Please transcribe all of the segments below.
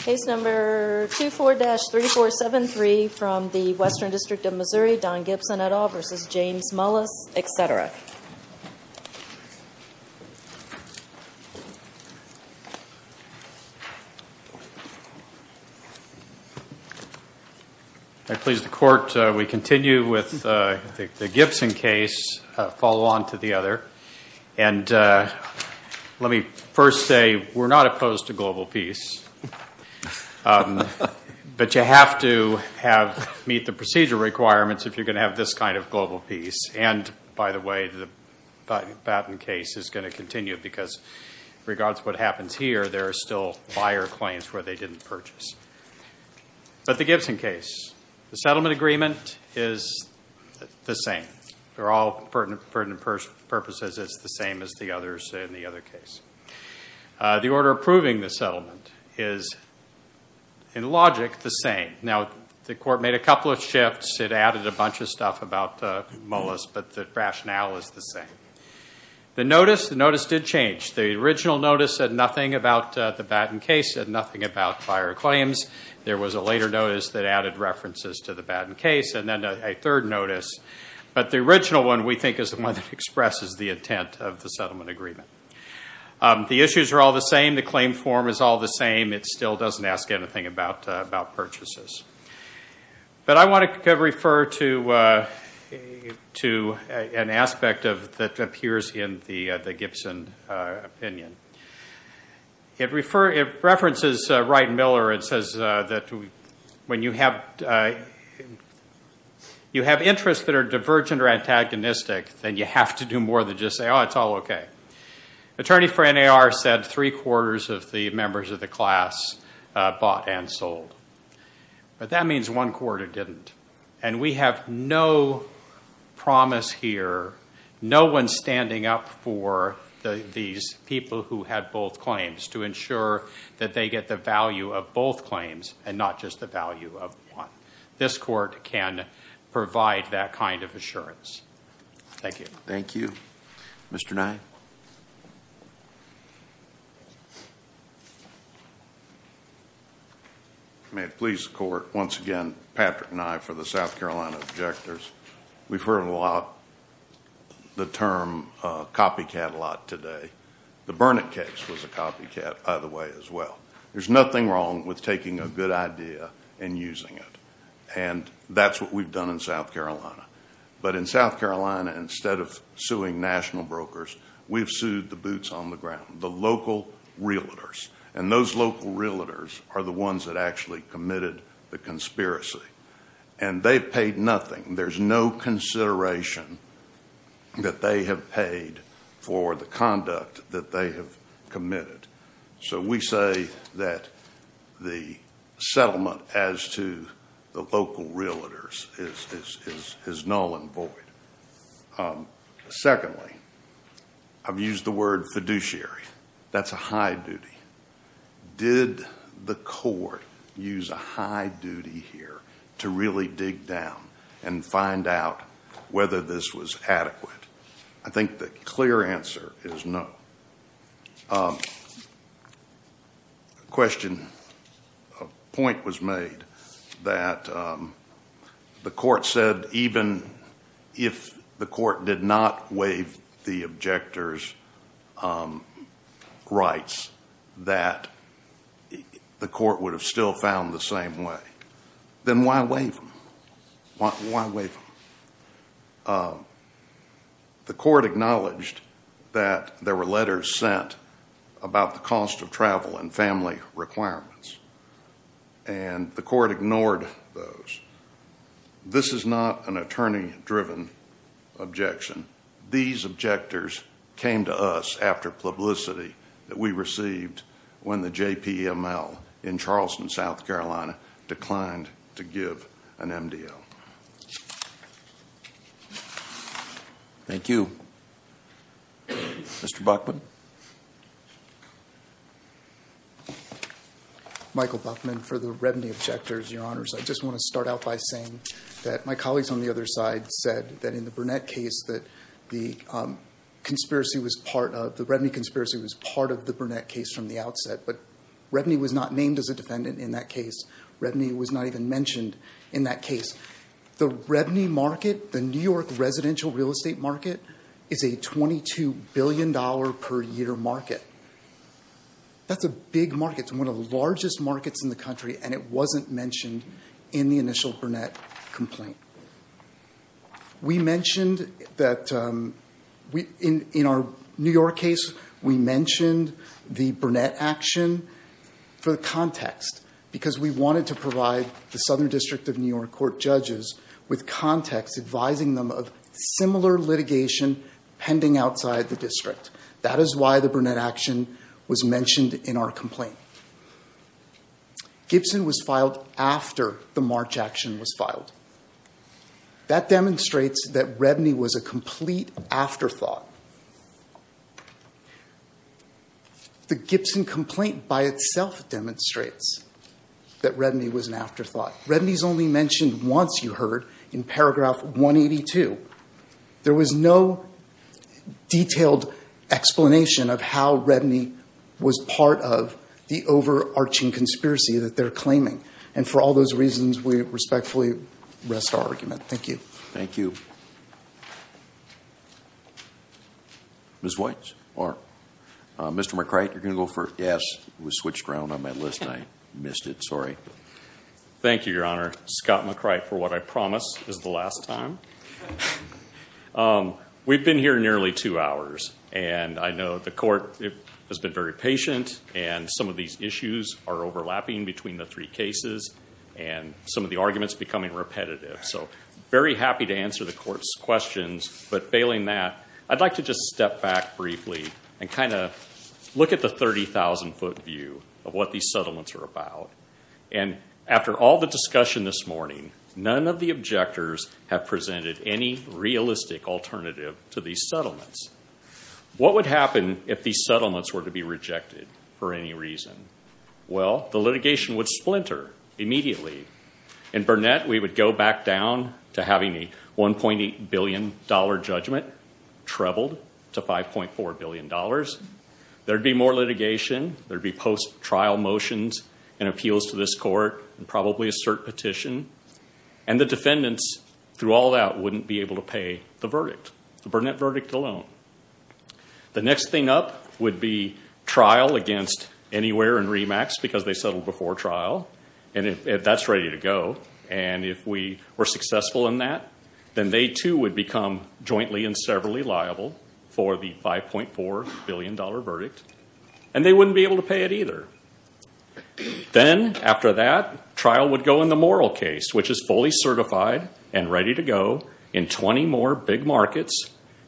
Case number 24-3473 from the Western District of Missouri, Don Gibson et al. v. James Mullis, etc. I please the Court, we continue with the Gibson case, follow on to the other. And let me first say, we're not opposed to global peace. But you have to have, meet the procedure requirements if you're going to have this kind of global peace. And, by the way, the Batten case is going to continue because, regardless of what happens here, there are still buyer claims where they didn't purchase. But the Gibson case, the settlement agreement is the same. For all pertinent purposes, it's the same as the others in the other case. The order approving the settlement is, in logic, the same. Now, the Court made a couple of shifts. It added a bunch of stuff about Mullis, but the rationale is the same. The notice, the notice did change. The original notice said nothing about the Batten case, said nothing about buyer claims. There was a later notice that added references to the Batten case, and then a third notice. But the original one, we think, is the one that expresses the intent of the settlement agreement. The issues are all the same. The claim form is all the same. It still doesn't ask anything about purchases. But I want to refer to an aspect that appears in the Gibson opinion. It references Wright and Miller. It says that when you have interests that are divergent or antagonistic, then you have to do more than just say, oh, it's all okay. Attorney for NAR said three-quarters of the members of the class bought and sold. But that means one-quarter didn't. And we have no promise here, no one standing up for these people who had both claims, to ensure that they get the value of both claims and not just the value of one. This Court can provide that kind of assurance. Thank you. Thank you. Mr. Nye. May it please the Court, once again, Patrick Nye for the South Carolina Objectors. We've heard a lot the term copycat a lot today. The Burnett case was a copycat, by the way, as well. There's nothing wrong with taking a good idea and using it. And that's what we've done in South Carolina. But in South Carolina, instead of suing national brokers, we've sued the boots on the ground, the local realtors. And those local realtors are the ones that actually committed the conspiracy. And they've paid nothing. There's no consideration that they have paid for the conduct that they have committed. So we say that the settlement as to the local realtors is null and void. Secondly, I've used the word fiduciary. That's a high duty. Did the Court use a high duty here to really dig down and find out whether this was adequate? I think the clear answer is no. A question, a point was made that the Court said even if the Court did not waive the objectors' rights, that the Court would have still found the same way. Then why waive them? Why waive them? The Court acknowledged that there were letters sent about the cost of travel and family requirements. And the Court ignored those. This is not an attorney-driven objection. These objectors came to us after publicity that we received when the JPML in Charleston, South Carolina, declined to give an MDO. Thank you. Mr. Buckman? Michael Buckman for the Redney objectors, Your Honors. I just want to start out by saying that my colleagues on the other side said that in the Burnett case, that the Redney conspiracy was part of the Burnett case from the outset. But Redney was not named as a defendant in that case. Redney was not even mentioned in that case. The Redney market, the New York residential real estate market, is a $22 billion per year market. That's a big market. It's one of the largest markets in the country, and it wasn't mentioned in the initial Burnett complaint. We mentioned that in our New York case, we mentioned the Burnett action for the context, because we wanted to provide the Southern District of New York Court judges with context, advising them of similar litigation pending outside the district. That is why the Burnett action was mentioned in our complaint. Gibson was filed after the March action was filed. That demonstrates that Redney was a complete afterthought. The Gibson complaint by itself demonstrates that Redney was an afterthought. Redney's only mentioned once, you heard, in paragraph 182. There was no detailed explanation of how Redney was part of the overarching conspiracy that they're claiming. And for all those reasons, we respectfully rest our argument. Thank you. Thank you. Ms. White or Mr. McCrite, you're going to go first? Yes. It was switched around on my list, and I missed it. Sorry. Thank you, Your Honor. Scott McCrite, for what I promise, is the last time. We've been here nearly two hours, and I know the court has been very patient, and some of these issues are overlapping between the three cases, and some of the arguments are becoming repetitive. I'm very happy to answer the court's questions, but failing that, I'd like to just step back briefly and kind of look at the 30,000-foot view of what these settlements are about. And after all the discussion this morning, none of the objectors have presented any realistic alternative to these settlements. What would happen if these settlements were to be rejected for any reason? Well, the litigation would splinter immediately. In Burnett, we would go back down to having a $1.8 billion judgment trebled to $5.4 billion. There would be more litigation. There would be post-trial motions and appeals to this court, and probably a cert petition. And the defendants, through all that, wouldn't be able to pay the verdict, the Burnett verdict alone. The next thing up would be trial against Anywhere and REMAX, because they settled before trial, and that's ready to go. And if we were successful in that, then they too would become jointly and severally liable for the $5.4 billion verdict. And they wouldn't be able to pay it either. Then, after that, trial would go in the Morrill case, which is fully certified and ready to go in 20 more big markets.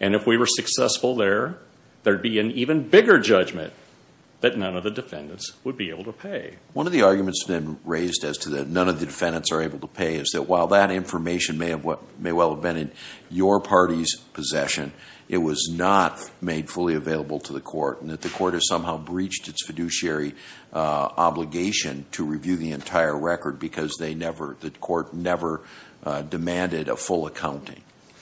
And if we were successful there, there would be an even bigger judgment that none of the defendants would be able to pay. One of the arguments then raised as to that none of the defendants are able to pay is that while that information may well have been in your party's possession, it was not made fully available to the court, and that the court has somehow breached its fiduciary obligation to review the entire record because the court never demanded a full accounting.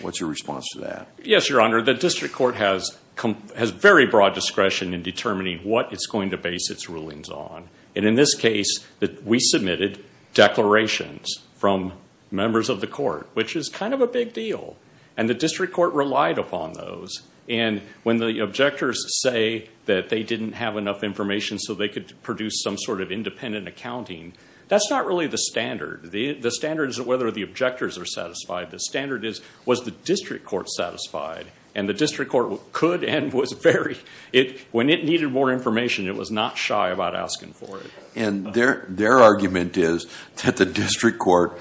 What's your response to that? Yes, Your Honor. The district court has very broad discretion in determining what it's going to base its rulings on. And in this case, we submitted declarations from members of the court, which is kind of a big deal. And the district court relied upon those. And when the objectors say that they didn't have enough information so they could produce some sort of independent accounting, that's not really the standard. The standard isn't whether the objectors are satisfied. The standard is was the district court satisfied. And the district court could and was very – when it needed more information, it was not shy about asking for it. And their argument is that the district court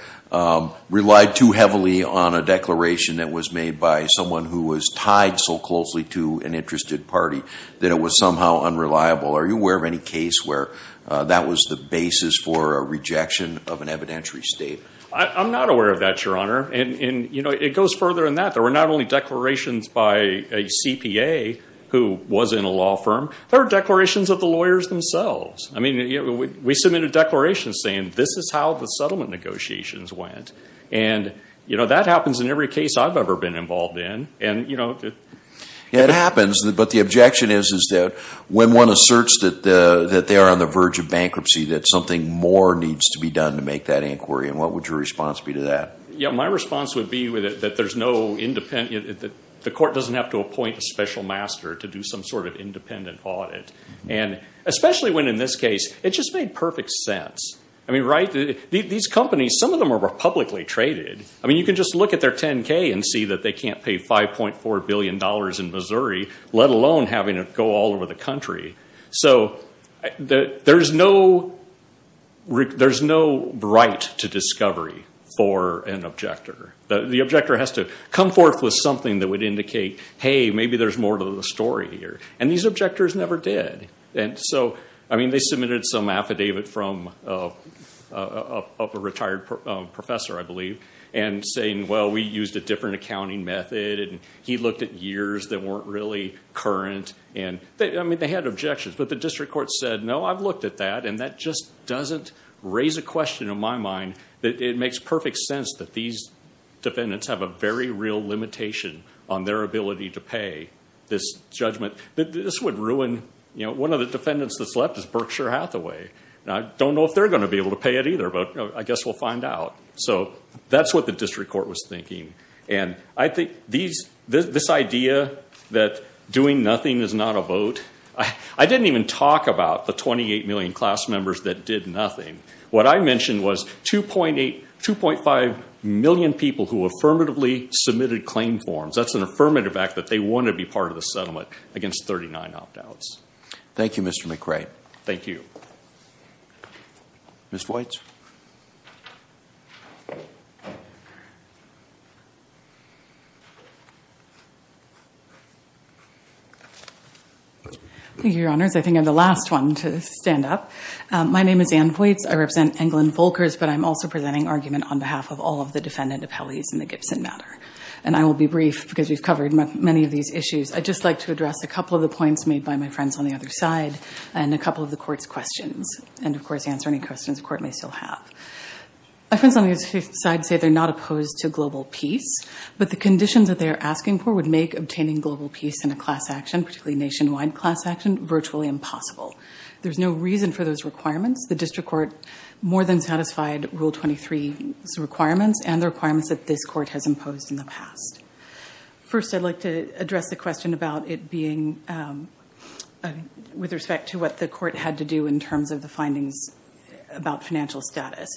relied too heavily on a declaration that was made by someone who was tied so closely to an interested party that it was somehow unreliable. Are you aware of any case where that was the basis for a rejection of an evidentiary state? I'm not aware of that, Your Honor. And, you know, it goes further than that. There were not only declarations by a CPA who was in a law firm. There were declarations of the lawyers themselves. I mean, we submitted declarations saying this is how the settlement negotiations went. And, you know, that happens in every case I've ever been involved in. And, you know, it happens. But the objection is that when one asserts that they are on the verge of bankruptcy, that something more needs to be done to make that inquiry. And what would your response be to that? Yeah, my response would be that there's no independent – the court doesn't have to appoint a special master to do some sort of independent audit. And especially when, in this case, it just made perfect sense. I mean, right? These companies, some of them are publicly traded. I mean, you can just look at their 10K and see that they can't pay $5.4 billion in Missouri, let alone having it go all over the country. So there's no right to discovery for an objector. The objector has to come forth with something that would indicate, hey, maybe there's more to the story here. And these objectors never did. And so, I mean, they submitted some affidavit from a retired professor, I believe, and saying, well, we used a different accounting method, and he looked at years that weren't really current. And, I mean, they had objections. But the district court said, no, I've looked at that, and that just doesn't raise a question in my mind that it makes perfect sense that these defendants have a very real limitation on their ability to pay this judgment. This would ruin one of the defendants that's left is Berkshire Hathaway. I don't know if they're going to be able to pay it either, but I guess we'll find out. So that's what the district court was thinking. And I think this idea that doing nothing is not a vote, I didn't even talk about the 28 million class members that did nothing. What I mentioned was 2.5 million people who affirmatively submitted claim forms. That's an affirmative act that they want to be part of the settlement against 39 opt-outs. Thank you, Mr. McRae. Thank you. Ms. Voights? Thank you, Your Honors. I think I'm the last one to stand up. My name is Anne Voights. I represent England Volkers, but I'm also presenting argument on behalf of all of the defendant appellees in the Gibson matter. And I will be brief because we've covered many of these issues. I'd just like to address a couple of the points made by my friends on the other side and a couple of the court's questions and, of course, answer any questions the court may still have. My friends on the other side say they're not opposed to global peace, but the conditions that they are asking for would make obtaining global peace in a class action, particularly nationwide class action, virtually impossible. There's no reason for those requirements. The district court more than satisfied Rule 23's requirements and the requirements that this court has imposed in the past. First, I'd like to address the question about it being with respect to what the court had to do in terms of the findings about financial status.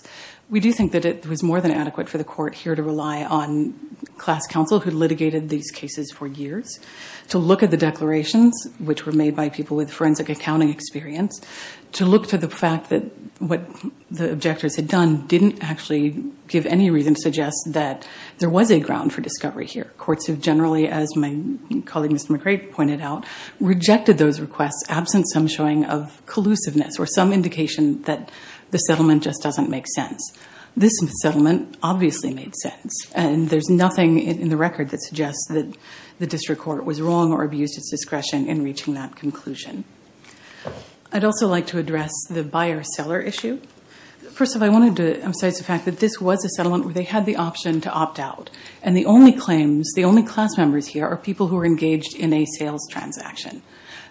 We do think that it was more than adequate for the court here to rely on class counsel who litigated these cases for years to look at the declarations, which were made by people with forensic accounting experience, to look to the fact that what the objectors had done didn't actually give any reason to suggest that there was a ground for discovery here. Courts have generally, as my colleague, Mr. McRae, pointed out, rejected those requests absent some showing of collusiveness or some indication that the settlement just doesn't make sense. This settlement obviously made sense, and there's nothing in the record that suggests that the district court was wrong or abused its discretion in reaching that conclusion. I'd also like to address the buyer-seller issue. First of all, I wanted to emphasize the fact that this was a settlement where they had the option to opt out, and the only claims, the only class members here are people who are engaged in a sales transaction.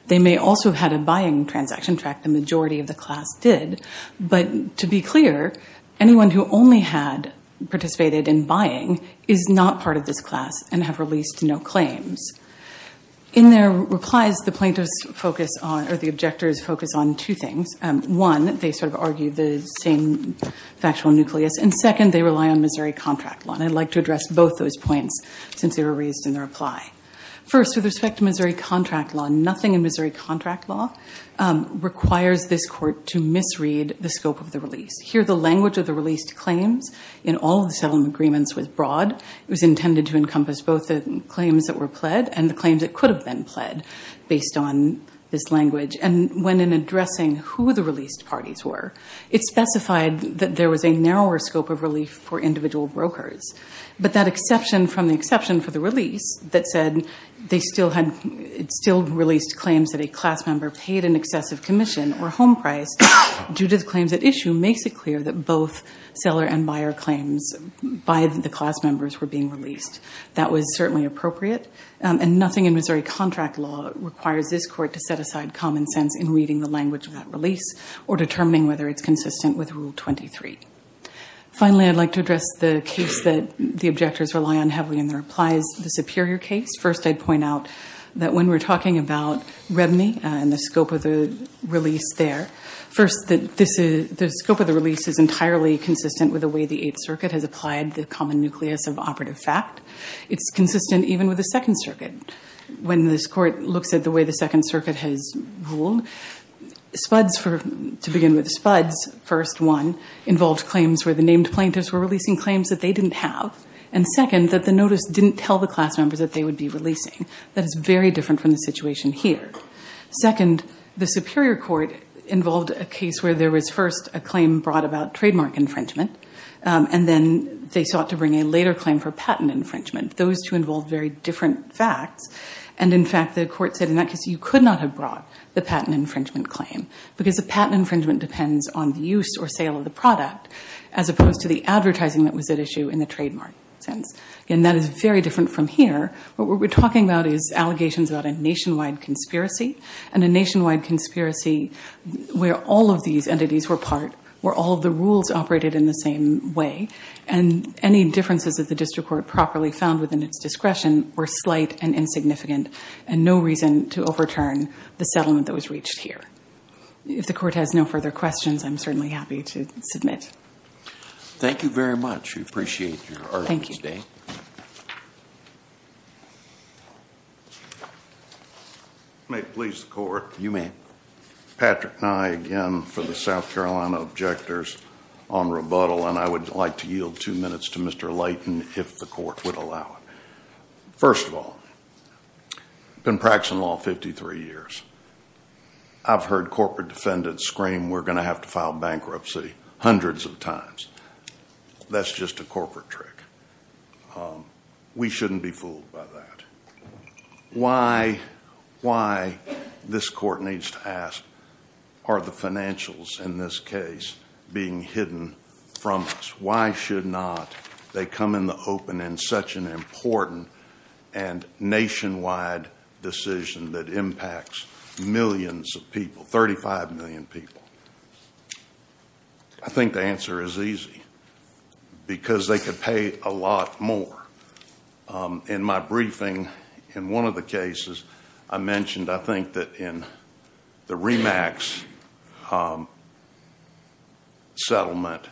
They may also have had a buying transaction track. The majority of the class did. But to be clear, anyone who only had participated in buying is not part of this class and have released no claims. In their replies, the plaintiffs focus on or the objectors focus on two things. One, they sort of argue the same factual nucleus, and second, they rely on Missouri contract law, and I'd like to address both those points since they were raised in the reply. First, with respect to Missouri contract law, nothing in Missouri contract law requires this court to misread the scope of the release. Here, the language of the released claims in all of the settlement agreements was broad. It was intended to encompass both the claims that were pled and the claims that could have been pled based on this language. And when in addressing who the released parties were, it specified that there was a narrower scope of relief for individual brokers. But that exception from the exception for the release that said it still released claims that a class member paid an excessive commission or home price due to the claims at issue makes it clear that both seller and buyer claims by the class members were being released. That was certainly appropriate, and nothing in Missouri contract law requires this court to set aside common sense in reading the language of that release or determining whether it's consistent with Rule 23. Finally, I'd like to address the case that the objectors rely on heavily in their replies, the Superior case. First, I'd point out that when we're talking about revenue and the scope of the release there, first, the scope of the release is entirely consistent with the way the Eighth Circuit has applied the common nucleus of operative fact. It's consistent even with the Second Circuit. When this court looks at the way the Second Circuit has ruled, to begin with, Spuds, first one, involved claims where the named plaintiffs were releasing claims that they didn't have, and second, that the notice didn't tell the class members that they would be releasing. That is very different from the situation here. Second, the Superior Court involved a case where there was first a claim brought about trademark infringement, and then they sought to bring a later claim for patent infringement. Those two involved very different facts, and, in fact, the court said in that case you could not have brought the patent infringement claim because the patent infringement depends on the use or sale of the product as opposed to the advertising that was at issue in the trademark sense. Again, that is very different from here. What we're talking about is allegations about a nationwide conspiracy, and a nationwide conspiracy where all of these entities were part, where all of the rules operated in the same way, and any differences that the district court properly found within its discretion were slight and insignificant and no reason to overturn the settlement that was reached here. If the court has no further questions, I'm certainly happy to submit. Thank you very much. We appreciate your argument today. May it please the court. You may. Patrick Nye again for the South Carolina Objectors on rebuttal, and I would like to yield two minutes to Mr. Layton if the court would allow it. First of all, been practicing law 53 years. I've heard corporate defendants scream we're going to have to file bankruptcy hundreds of times. That's just a corporate trick. We shouldn't be fooled by that. Why this court needs to ask are the financials in this case being hidden from us? Why should not they come in the open in such an important and nationwide decision that impacts millions of people, 35 million people? I think the answer is easy, because they could pay a lot more. In my briefing in one of the cases, I mentioned I think that in the REMAX settlement,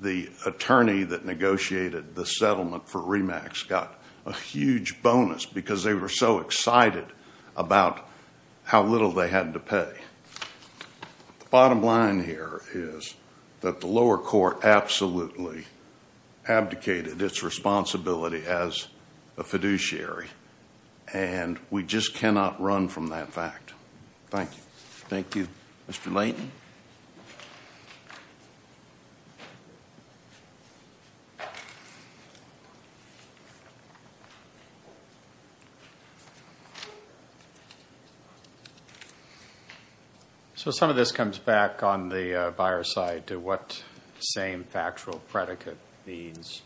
the attorney that negotiated the settlement for REMAX got a huge bonus because they were so excited about how little they had to pay. The bottom line here is that the lower court absolutely abdicated its responsibility as a fiduciary, and we just cannot run from that fact. Thank you. Thank you, Mr. Layton. Some of this comes back on the buyer's side to what the same factual predicate means.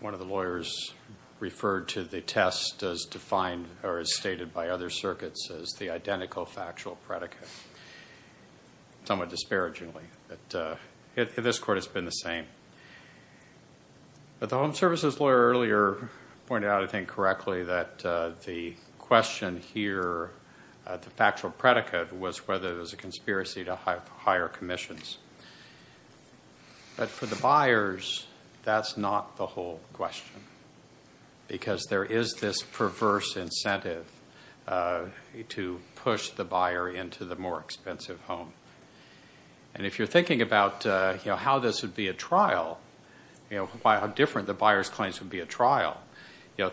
One of the lawyers referred to the test as defined or as stated by other circuits as the identical factual predicate, somewhat disparagingly. This court has been the same. The home services lawyer earlier pointed out, I think correctly, that the question here, the factual predicate, was whether it was a conspiracy to hire commissions. But for the buyers, that's not the whole question, because there is this perverse incentive to push the buyer into the more expensive home. And if you're thinking about how this would be a trial, how different the buyer's claims would be a trial,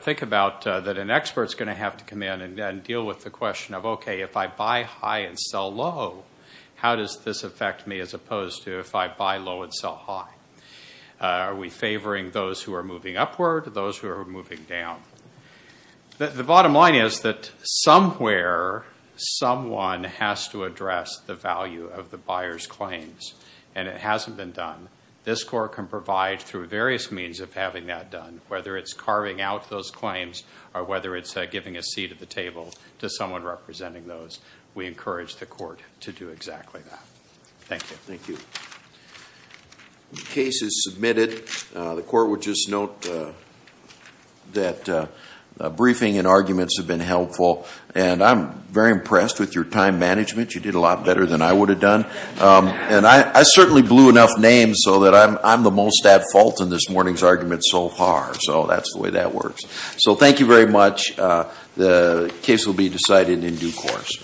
think about that an expert is going to have to come in and deal with the question of, okay, if I buy high and sell low, how does this affect me as opposed to if I buy low and sell high? Are we favoring those who are moving upward or those who are moving down? The bottom line is that somewhere, someone has to address the value of the buyer's claims, and it hasn't been done. This court can provide through various means of having that done, whether it's carving out those claims or whether it's giving a seat at the table to someone representing those. We encourage the court to do exactly that. Thank you. Thank you. The case is submitted. The court would just note that briefing and arguments have been helpful, and I'm very impressed with your time management. You did a lot better than I would have done. And I certainly blew enough names so that I'm the most at fault in this morning's argument so far. So that's the way that works. So thank you very much. The case will be decided in due course.